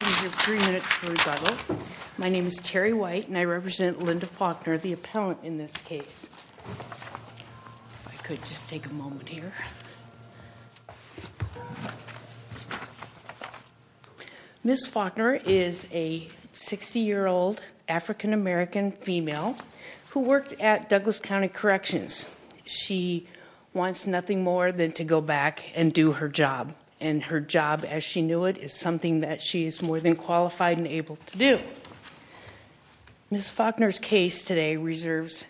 Three minutes for rebuttal. My name is Terry White and I represent Linda Faulkner, the appellant in this case. If I could just take a moment here. Ms. Faulkner is a 60-year-old African-American female who worked at Douglas County Corrections. She wants nothing more than to go back and do her job as she knew it is something that she is more than qualified and able to do. Ms. Faulkner's case today reserves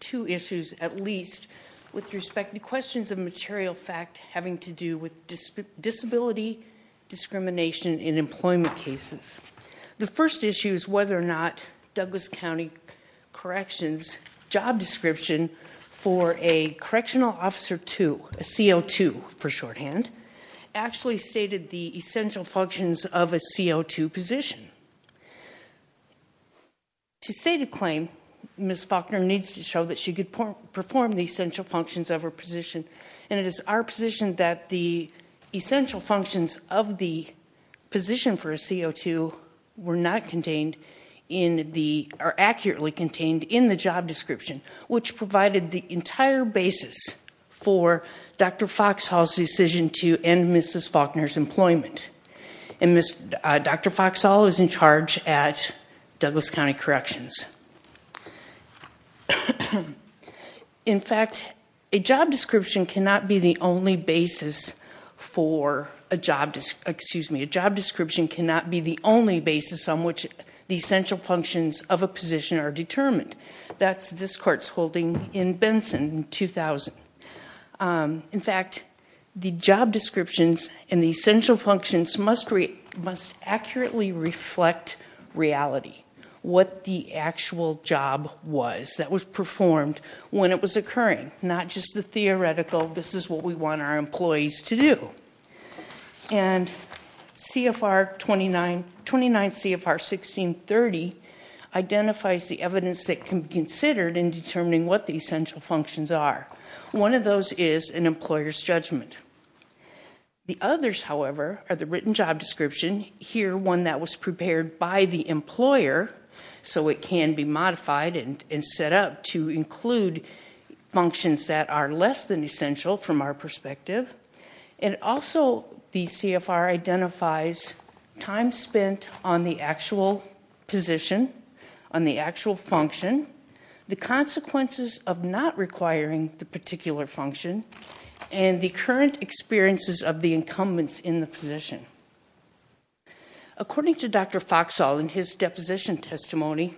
two issues at least with respect to questions of material fact having to do with disability discrimination in employment cases. The first issue is whether or not Douglas County Corrections job description for a correctional officer to a CO2 for the essential functions of a CO2 position. To state a claim, Ms. Faulkner needs to show that she could perform the essential functions of her position and it is our position that the essential functions of the position for a CO2 were not contained in the are accurately contained in the job description which provided the entire basis for Dr. Foxhall's decision to end Mrs. Faulkner's employment. And Dr. Foxhall is in charge at Douglas County Corrections. In fact, a job description cannot be the only basis for a job, excuse me, a job description cannot be the only basis on which the essential functions of a position are determined. That's this court's holding in Benson 2000. In fact, the job descriptions and the essential functions must accurately reflect reality. What the actual job was that was performed when it was occurring. Not just the theoretical, this is what we want our employees to do. And CFR 29, 29 CFR 1630 identifies the evidence that can be considered in determining what the employer's judgment. The others, however, are the written job description. Here, one that was prepared by the employer so it can be modified and set up to include functions that are less than essential from our perspective. And also the CFR identifies time spent on the actual position, on the actual function, the current experiences of the incumbents in the position. According to Dr. Foxhall in his deposition testimony,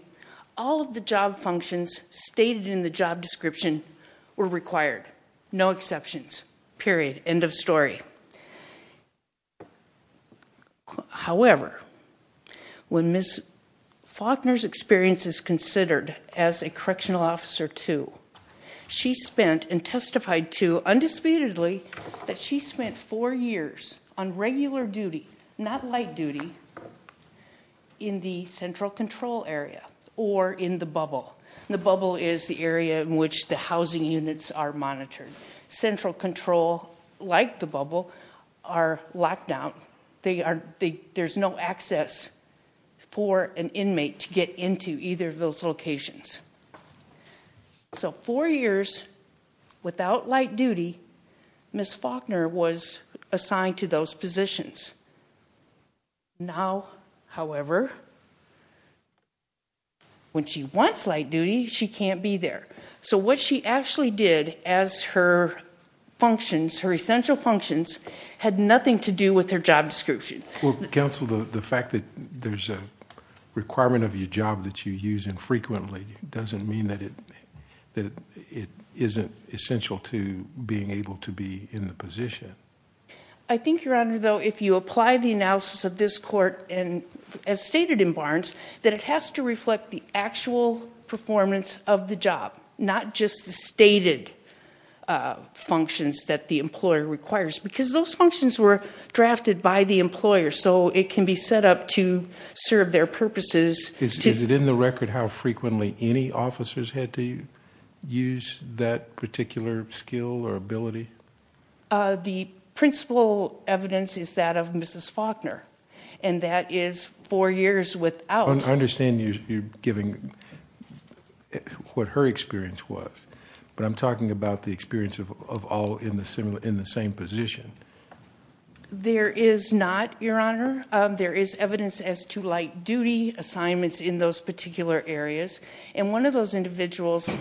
all of the job functions stated in the job description were required. No exceptions. Period. End of story. However, when Ms. Faulkner's experience is considered as a correctional officer too, she spent and testified to, undisputedly, that she spent four years on regular duty, not light duty, in the central control area or in the bubble. The bubble is the area in which the housing units are monitored. Central control, like the bubble, are locked down. There's no access for an So, four years without light duty, Ms. Faulkner was assigned to those positions. Now, however, when she wants light duty, she can't be there. So what she actually did as her functions, her essential functions, had nothing to do with her job description. Well, counsel, the fact that there's a requirement of your job that you use infrequently doesn't mean that it isn't essential to being able to be in the position. I think, your honor, though, if you apply the analysis of this court, and as stated in Barnes, that it has to reflect the actual performance of the job, not just the stated functions that the employer requires. Because those functions were drafted by the employer, so it can be set up to serve their The principal evidence is that of Mrs. Faulkner, and that is four years without. I understand you're giving what her experience was, but I'm talking about the experience of all in the same position. There is not, your areas, and one of those individuals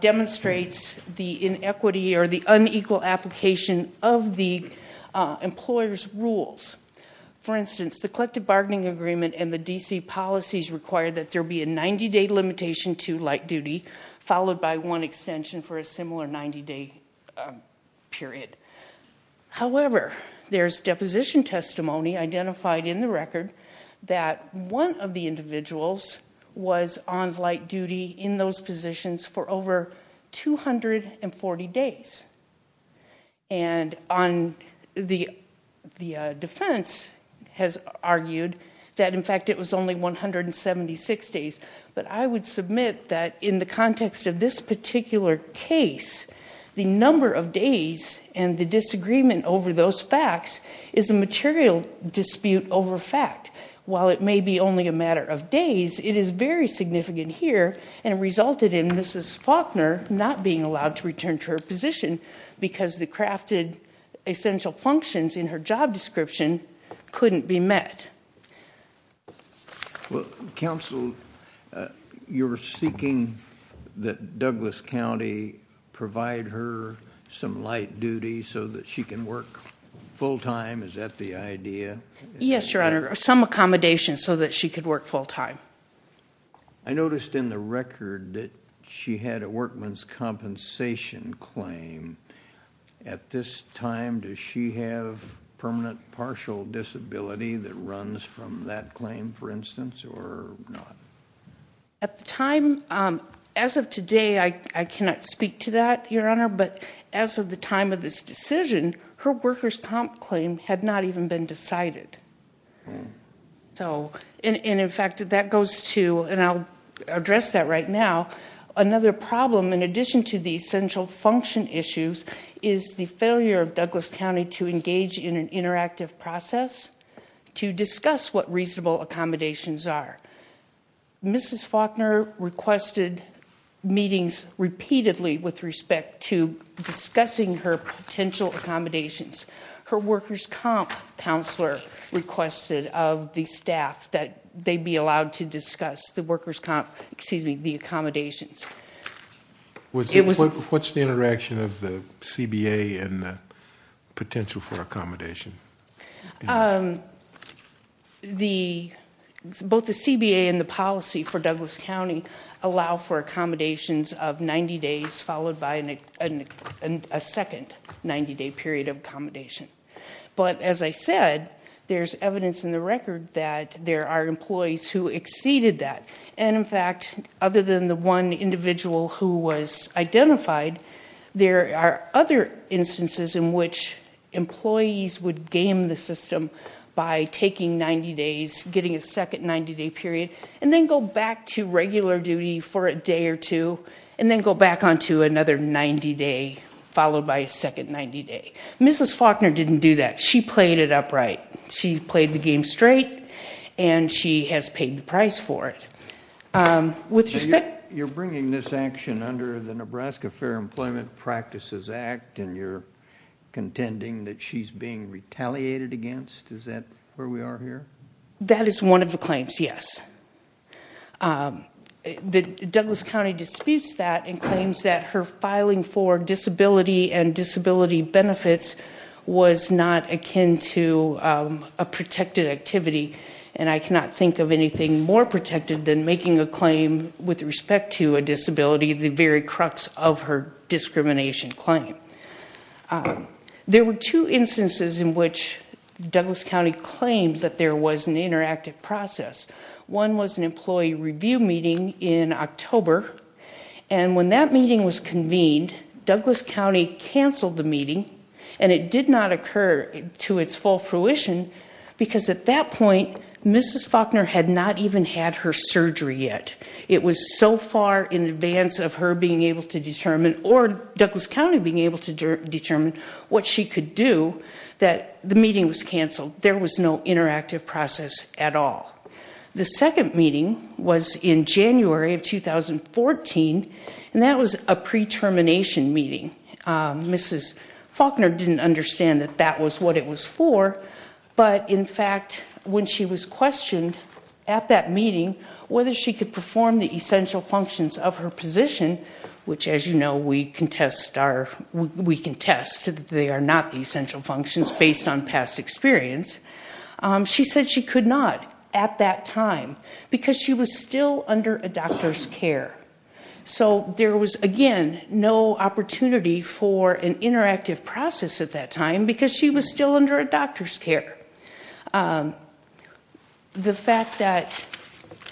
demonstrates the inequity or the unequal application of the employer's rules. For instance, the collective bargaining agreement and the DC policies require that there be a 90-day limitation to light duty, followed by one extension for a similar 90-day period. However, there's deposition testimony identified in the record that one of the was on light duty in those positions for over 240 days. The defense has argued that in fact it was only 176 days, but I would submit that in the context of this particular case, the number of days and the disagreement over those facts is a material dispute over fact. While it may be only a matter of days, it is very significant here and resulted in Mrs. Faulkner not being allowed to return to her position because the crafted essential functions in her job description couldn't be met. Well, counsel, you're seeking that Douglas County provide her some light duty so that she can work full-time. Is that the I noticed in the record that she had a workman's compensation claim. At this time, does she have permanent partial disability that runs from that claim, for instance, or not? At the time, as of today, I cannot speak to that, Your Honor, but as of the time of this decision, her worker's comp claim had not even been and I'll address that right now. Another problem, in addition to the essential function issues, is the failure of Douglas County to engage in an interactive process to discuss what reasonable accommodations are. Mrs. Faulkner requested meetings repeatedly with respect to discussing her potential accommodations. Her worker's comp counselor requested of the staff that they be allowed to discuss the accommodations. What's the interaction of the CBA and the potential for accommodation? Both the CBA and the policy for Douglas County allow for accommodations of 90 days followed by a second 90-day period of accommodation. But, as I said, there's evidence in the record that there are employees who exceeded that and, in fact, other than the one individual who was identified, there are other instances in which employees would game the system by taking 90 days, getting a second 90-day period, and then go back to regular duty for a day or two and then go back on to another 90-day followed by a second 90-day. Mrs. Faulkner didn't do that. She played it upright. She played the game straight and she has paid the price for it. With respect... You're bringing this action under the Nebraska Fair Employment Practices Act and you're contending that she's being retaliated against? Is that where we are here? That is one of the claims, yes. Douglas County disputes that and claims that her filing for disability and was not akin to a protected activity and I cannot think of anything more protected than making a claim with respect to a disability, the very crux of her discrimination claim. There were two instances in which Douglas County claimed that there was an interactive process. One was an employee review meeting in October and when that meeting was convened, Douglas County canceled the meeting to its full fruition because at that point, Mrs. Faulkner had not even had her surgery yet. It was so far in advance of her being able to determine or Douglas County being able to determine what she could do that the meeting was canceled. There was no interactive process at all. The second meeting was in January of 2014 and that was a pre-termination meeting. Mrs. Faulkner said that was what it was for but in fact, when she was questioned at that meeting whether she could perform the essential functions of her position, which as you know, we can test that they are not the essential functions based on past experience, she said she could not at that time because she was still under a doctor's care. So there was again no opportunity for an interactive process at that time because she was still under a doctor's care. The fact that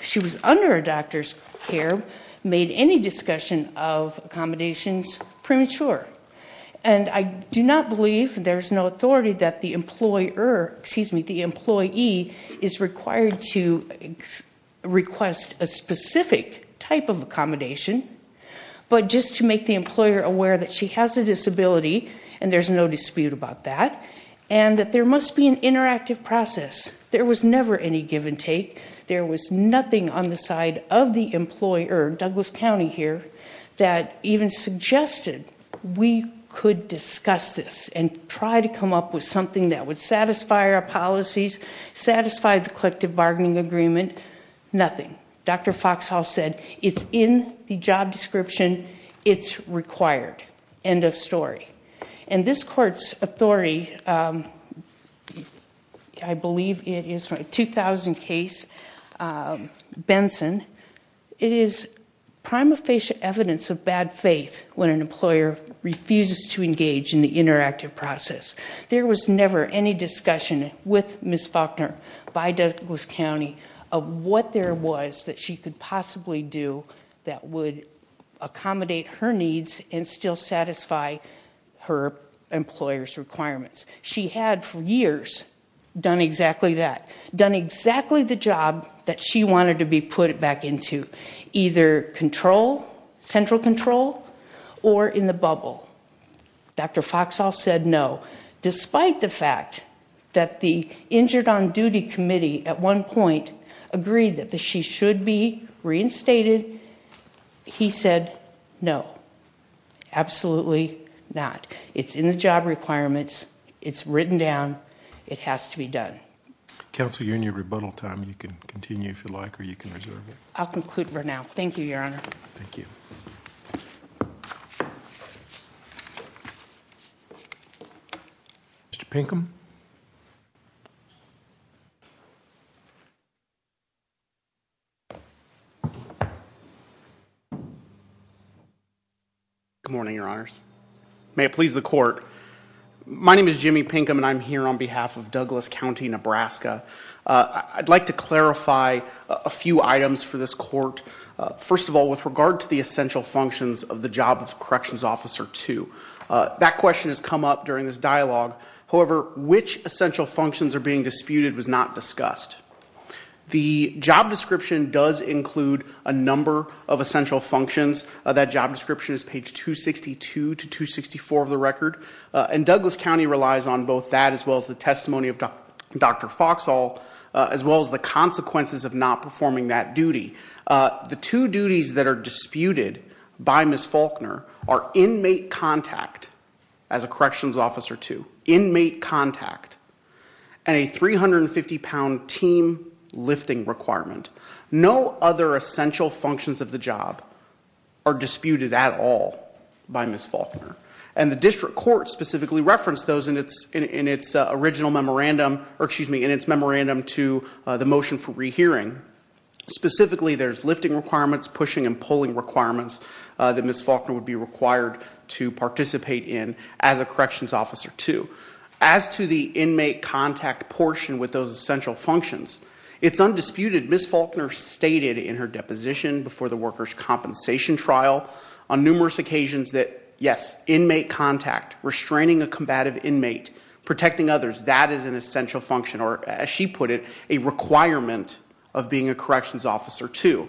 she was under a doctor's care made any discussion of accommodations premature and I do not believe there's no authority that the employer, excuse me, the employee is required to request a that she has a disability and there's no dispute about that and that there must be an interactive process. There was never any give-and-take. There was nothing on the side of the employer, Douglas County here, that even suggested we could discuss this and try to come up with something that would satisfy our policies, satisfy the collective bargaining agreement, nothing. Dr. Foxhall said it's in the job description, it's required. End of story. And this court's authority, I believe it is from a 2000 case, Benson, it is prima facie evidence of bad faith when an employer refuses to engage in the interactive process. There was never any discussion with Ms. Faulkner by Douglas County of what there do that would accommodate her needs and still satisfy her employers requirements. She had for years done exactly that, done exactly the job that she wanted to be put back into, either control, central control, or in the bubble. Dr. Foxhall said no, despite the fact that the injured on duty committee at one point agreed that she should be reinstated, he said no, absolutely not. It's in the job requirements, it's written down, it has to be done. Counsel, you're in your rebuttal time. You can continue if you like or you can reserve it. I'll conclude for now. Thank you, Your Honor. Thank you. Mr. Pinkham? Good morning, Your Honors. May it please the court, my name is Jimmy Pinkham and I'm here on behalf of Douglas County, Nebraska. I'd like to clarify a few items for this court. First of all, with regard to the essential functions of the job of corrections officer 2. That question has come up during this dialogue. However, which essential functions are being disputed was not discussed. The job description does include a number of essential functions. That job description is page 262 to 264 of the record and Douglas County relies on both that as well as the testimony of Dr. Foxhall, as well as the consequences of not performing that duty. The two duties that are disputed by Ms. Faulkner are inmate contact as a corrections officer 2, inmate contact and a 350 pound team lifting requirement. No other essential functions of the job are disputed at all by Ms. Faulkner and the district court specifically referenced those in its in its original memorandum or excuse me in its memorandum to the motion for specifically there's lifting requirements, pushing and pulling requirements that Ms. Faulkner would be required to participate in as a corrections officer 2. As to the inmate contact portion with those essential functions, it's undisputed Ms. Faulkner stated in her deposition before the workers' compensation trial on numerous occasions that yes, inmate contact, restraining a combative inmate, protecting others, that is an essential function or as she put it, a requirement of being a corrections officer 2.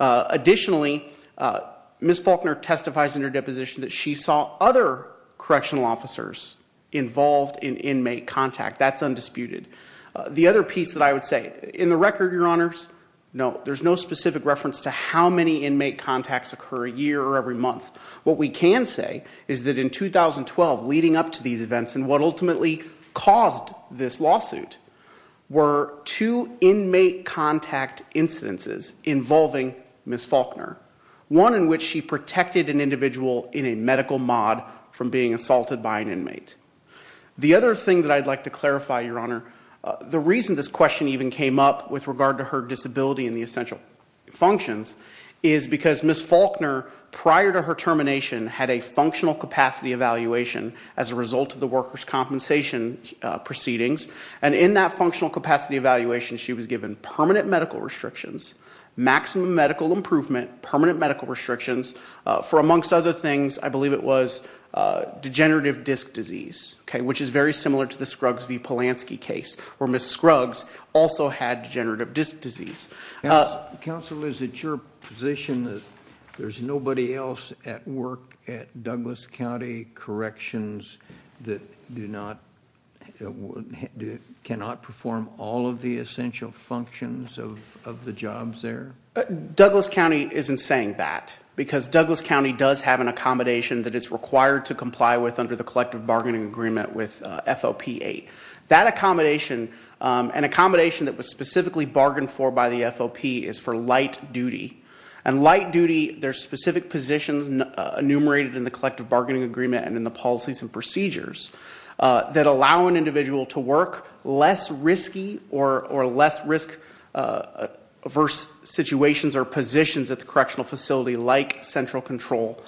Additionally, Ms. Faulkner testifies in her deposition that she saw other correctional officers involved in inmate contact. That's undisputed. The other piece that I would say, in the record your honors, no there's no specific reference to how many inmate contacts occur a year or every month. What we can say is that in 2012 leading up to these events and what ultimately caused this lawsuit were two inmate contact incidences involving Ms. Faulkner. One in which she protected an individual in a medical mod from being assaulted by an inmate. The other thing that I'd like to clarify your honor, the reason this question even came up with regard to her disability and the essential functions is because Ms. Faulkner prior to her termination had a functional capacity evaluation as a result of the workers compensation proceedings and in that functional capacity evaluation she was given permanent medical restrictions, maximum medical improvement, permanent medical restrictions, for amongst other things I believe it was degenerative disc disease. Okay, which is very similar to the Scruggs v Polanski case where Ms. Scruggs also had degenerative disc disease. Counsel is it your position that there's nobody else at work at Douglas County corrections that do not, cannot perform all of the essential functions of the jobs there? Douglas County isn't saying that because Douglas County does have an accommodation that is required to comply with under the collective bargaining agreement with FOP 8. That accommodation, an accommodation that was specifically bargained for by the FOP is for light duty and light duty there's specific positions enumerated in the collective bargaining agreement and in the policies and procedures that allow an individual to work less risky or less risk averse situations or positions at the correctional facility like central control,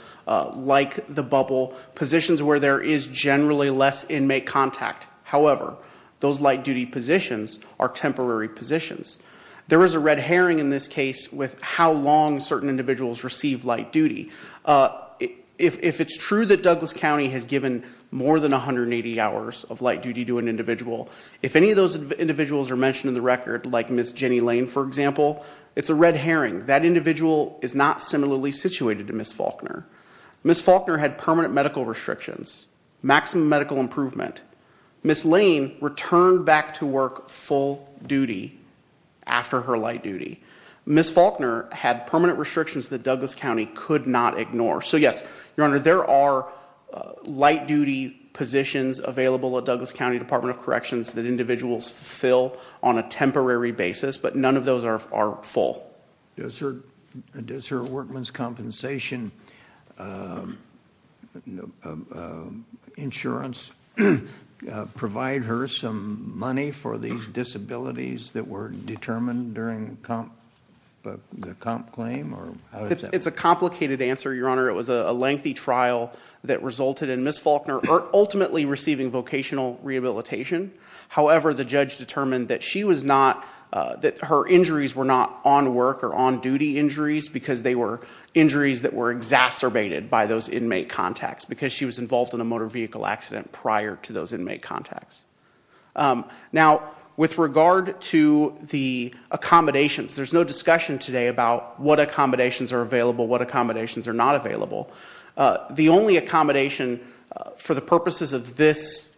like the bubble, positions where there is generally less inmate contact. However, those light duty positions are temporary positions. There is a red herring when certain individuals receive light duty. If it's true that Douglas County has given more than 180 hours of light duty to an individual, if any of those individuals are mentioned in the record like Ms. Jenny Lane for example, it's a red herring. That individual is not similarly situated to Ms. Faulkner. Ms. Faulkner had permanent medical restrictions, maximum medical improvement. Ms. Lane returned back to work full duty after her light duty. Ms. Faulkner had permanent restrictions that Douglas County could not ignore. So yes, your honor, there are light duty positions available at Douglas County Department of Corrections that individuals fill on a temporary basis, but none of those are full. Does her workman's compensation insurance provide her some money for these disabilities that were determined during the comp claim? It's a complicated answer, your honor. It was a lengthy trial that resulted in Ms. Faulkner ultimately receiving vocational rehabilitation. However, the judge determined that she was not, that her injuries were not on work or on duty injuries because they were injuries that were exacerbated by those inmate contacts because she was involved in a motor vehicle accident prior to those inmate contacts. Now with regard to the accommodations, there's no discussion today about what accommodations are available, what accommodations are not available. The only accommodation for the purposes of this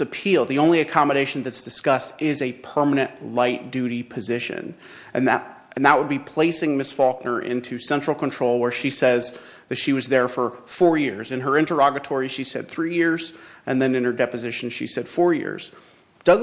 appeal, the only accommodation that's discussed is a permanent light duty position and that would be placing Ms. Faulkner into central control where she says that she was there for four years. In her interrogatory she said three years and then in her deposition she said four years. There's no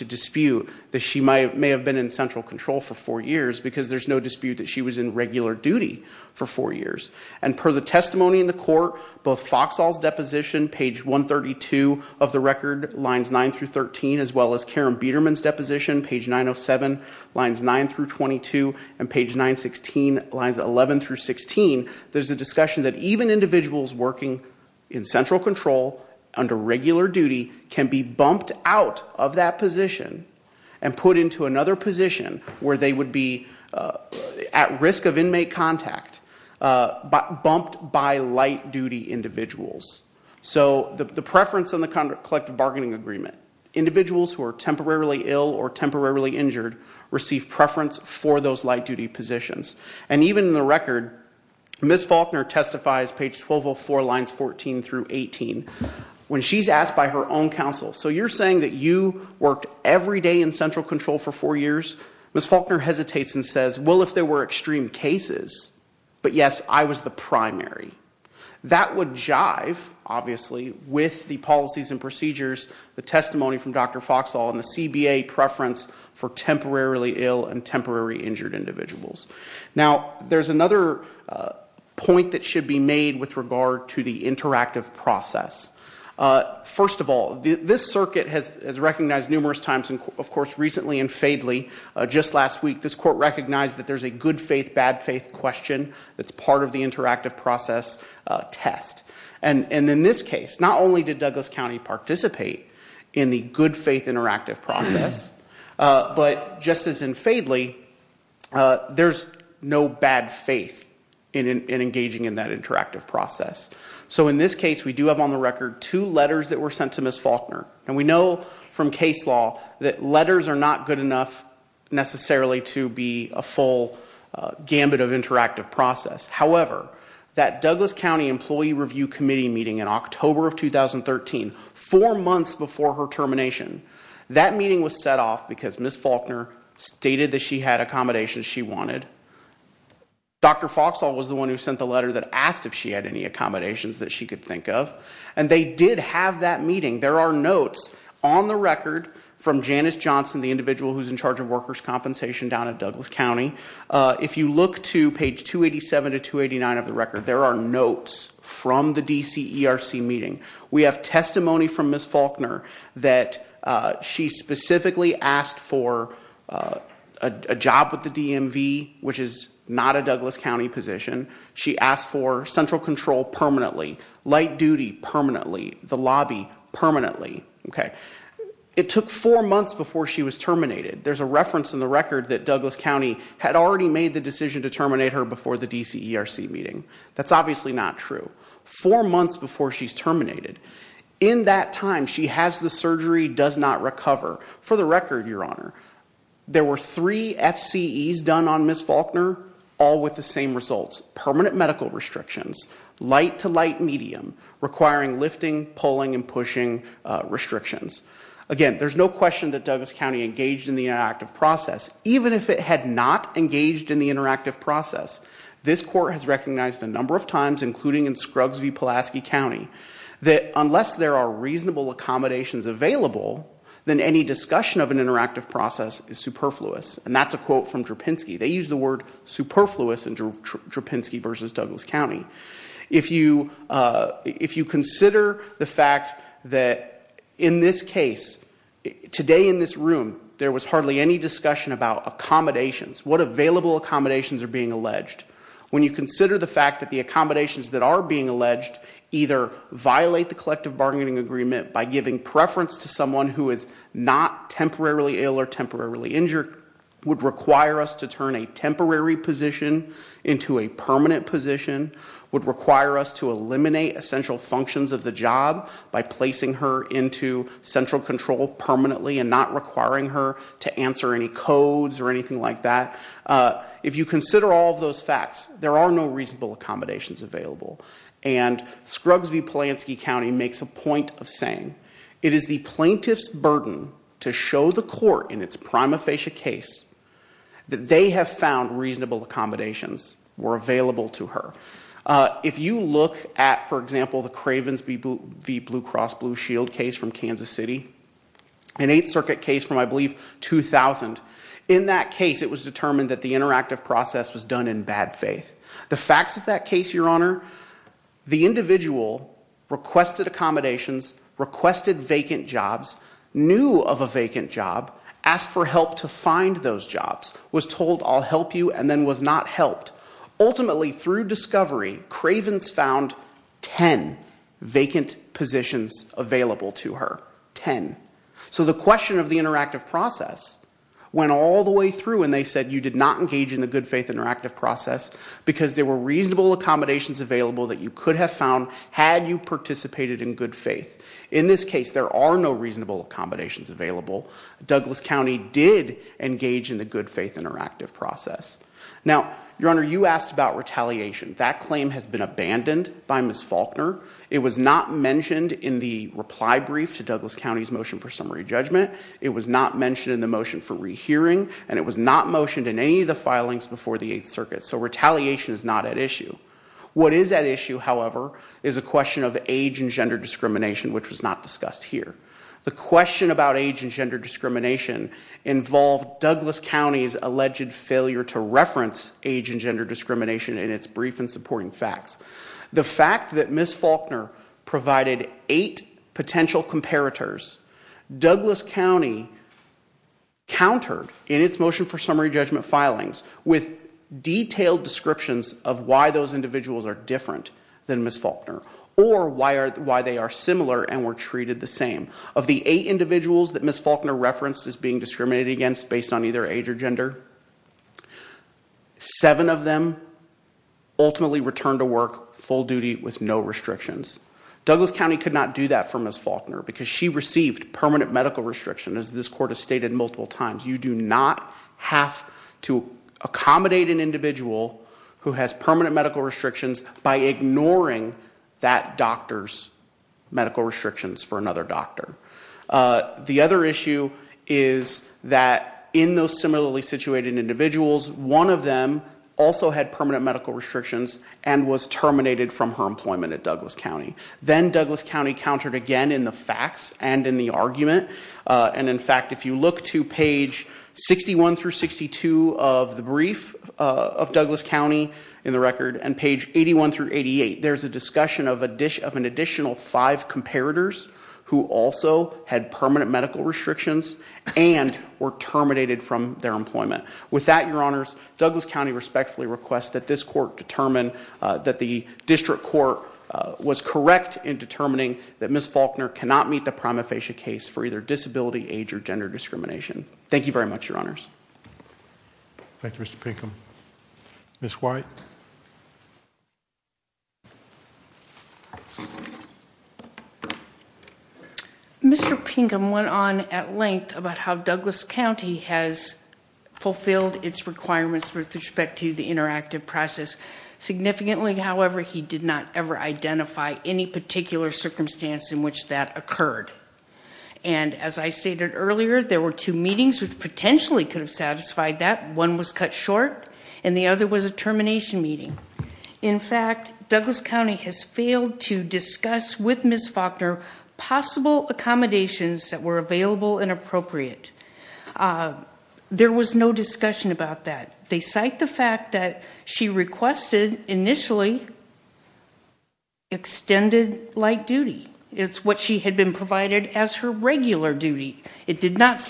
dispute that she may have been in central control for four years because there's no dispute that she was in regular duty for four years. And per the testimony in the court, both Foxall's deposition, page 132 of the record, lines 9 through 13, as well as Karen Biederman's deposition, page 907, lines 9 through 22, and page 916, lines 11 through 16, there's a discussion that even individuals working in central control under regular duty can be bumped out of that position and put into another position where they would be at risk of inmate contact, but bumped by light duty individuals. So the preference on the collective bargaining agreement, individuals who are temporarily ill or temporarily injured receive preference for those light duty positions. And even in the record, Ms. Faulkner testifies, page 1204, lines 14 through 18, when she's asked by her own counsel, so you're saying that you worked every day in central control for four years? Ms. Faulkner hesitates and says, well if there were extreme cases, but yes I was the primary. That would jive, obviously, with the policies and procedures, the testimony from Dr. Foxall, and the CBA preference for temporarily ill and temporarily injured individuals. Now there's another point that should be made with regard to the interactive process. First of all, this circuit has recognized numerous times, and of course recently in Fadley, just last week, this court recognized that there's a good faith, bad faith question that's part of the interactive process test. And in this case, not only did Douglas County participate in the good faith interactive process, but just as in Fadley, there's no bad faith in engaging in that interactive process. So in this case, we do have on the record two letters that were sent to Ms. Faulkner, and we know from case law that letters are not good enough necessarily to be a full gambit of interactive process. However, that Douglas County Employee Review Committee meeting in October of 2013, four months before her termination, that meeting was set off because Ms. Faulkner stated that she had accommodations she wanted. Dr. Foxall was the one who sent the letter that asked if she had any accommodations that she could think of, and they did have that meeting. There are notes on the record from Janice Johnson, the individual who's in charge of workers compensation down at Douglas County. If you look to page 287 to 289 of the record, there are notes from the DCERC meeting. We have testimony from Ms. Faulkner that she specifically asked for a job with the DMV, which is not a Douglas County position. She asked for central control permanently, light duty permanently, the lobby permanently. Okay, it took four months before she was terminated. There's a reference in the record that Douglas County had already made the decision to terminate her before the DCERC meeting. That's obviously not true. Four months before she's terminated. In that time, she has the surgery, does not recover. For the record, Your Honor, there were three FCEs done on Ms. Faulkner, all with the same results. Permanent medical restrictions, light to light medium, requiring lifting, pulling, and pushing restrictions. Again, there's no question that Douglas County engaged in the interactive process. Even if it had not engaged in the interactive process, this court has recognized a number of times, including in Scruggs v. Pulaski County, that unless there are reasonable accommodations available, then any discussion of an interactive process is superfluous. And that's a quote from Drupinski v. Douglas County. If you consider the fact that in this case, today in this room, there was hardly any discussion about accommodations, what available accommodations are being alleged. When you consider the fact that the accommodations that are being alleged either violate the collective bargaining agreement by giving preference to someone who is not temporarily ill or temporarily injured, would require us to turn a temporary position into a permanent position, would require us to eliminate essential functions of the job by placing her into central control permanently and not requiring her to answer any codes or anything like that. If you consider all of those facts, there are no reasonable accommodations available. And Scruggs v. Pulaski County makes a point of saying, it is the plaintiff's burden to show the were available to her. If you look at, for example, the Cravens v. Blue Cross Blue Shield case from Kansas City, an Eighth Circuit case from, I believe, 2000, in that case, it was determined that the interactive process was done in bad faith. The facts of that case, Your Honor, the individual requested accommodations, requested vacant jobs, knew of a vacant job, asked for help to was not helped. Ultimately, through discovery, Cravens found ten vacant positions available to her. Ten. So the question of the interactive process went all the way through and they said you did not engage in the good faith interactive process because there were reasonable accommodations available that you could have found had you participated in good faith. In this case, there are no reasonable accommodations available. Douglas County did engage in the good faith interactive process. Now, Your Honor, you asked about retaliation. That claim has been abandoned by Ms. Faulkner. It was not mentioned in the reply brief to Douglas County's motion for summary judgment. It was not mentioned in the motion for rehearing and it was not motioned in any of the filings before the Eighth Circuit. So retaliation is not at issue. What is at issue, however, is a question of age and gender discrimination, which was not discussed here. The question about age and gender discrimination involved Douglas County's alleged failure to reference age and gender discrimination in its brief and supporting facts. The fact that Ms. Faulkner provided eight potential comparators, Douglas County countered in its motion for summary judgment filings with detailed descriptions of why those individuals are different than Ms. Faulkner or why they are similar and were treated the same. Of the eight individuals that Ms. Faulkner referenced as being discriminated against based on either age or gender, seven of them ultimately returned to work full duty with no restrictions. Douglas County could not do that for Ms. Faulkner because she received permanent medical restriction, as this court has stated multiple times. You do not have to accommodate an individual who has permanent medical restrictions by ignoring that doctor's medical restrictions for another doctor. The other issue is that in those similarly situated individuals, one of them also had permanent medical restrictions and was terminated from her employment at Douglas County. Then Douglas County countered again in the facts and in the argument, and in fact if you look to page 61 through 62 of the brief of Douglas County in the record and page 81 through 88, there's a discussion of an additional five comparators who also had permanent medical restrictions and were terminated from their employment. With that, your honors, Douglas County respectfully requests that this court determine that the district court was correct in determining that Ms. Faulkner cannot meet the prima facie case for either disability, age, or gender discrimination. Thank you very much, your honors. Thank you, Mr. Pinkham. Ms. White. Mr. Pinkham went on at length about how Douglas County has fulfilled its requirements with respect to the interactive process significantly. However, he did not ever identify any particular circumstance in which that occurred, and as I stated earlier, there were two meetings which potentially could have satisfied that. One was cut short and the other was a termination meeting. In fact, Douglas County has failed to discuss with Ms. Faulkner possible accommodations that were available and appropriate. There was no discussion about that. They cite the fact that she requested initially extended light duty. It's what she had been provided as her regular duty. It did not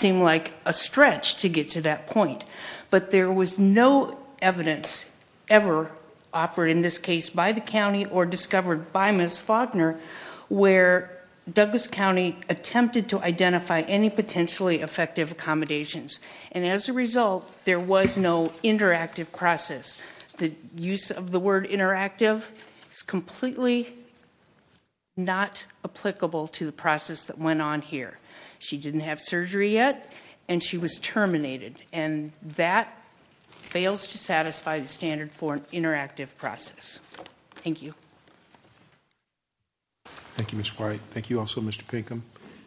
occur in this case by the county or discovered by Ms. Faulkner where Douglas County attempted to identify any potentially effective accommodations, and as a result, there was no interactive process. The use of the word interactive is completely not applicable to the process that went on here. She didn't have surgery yet and she was terminated, and that fails to satisfy the standard for an interactive process. Thank you. Thank you, Ms. White. Thank you also, Mr. Pinkham.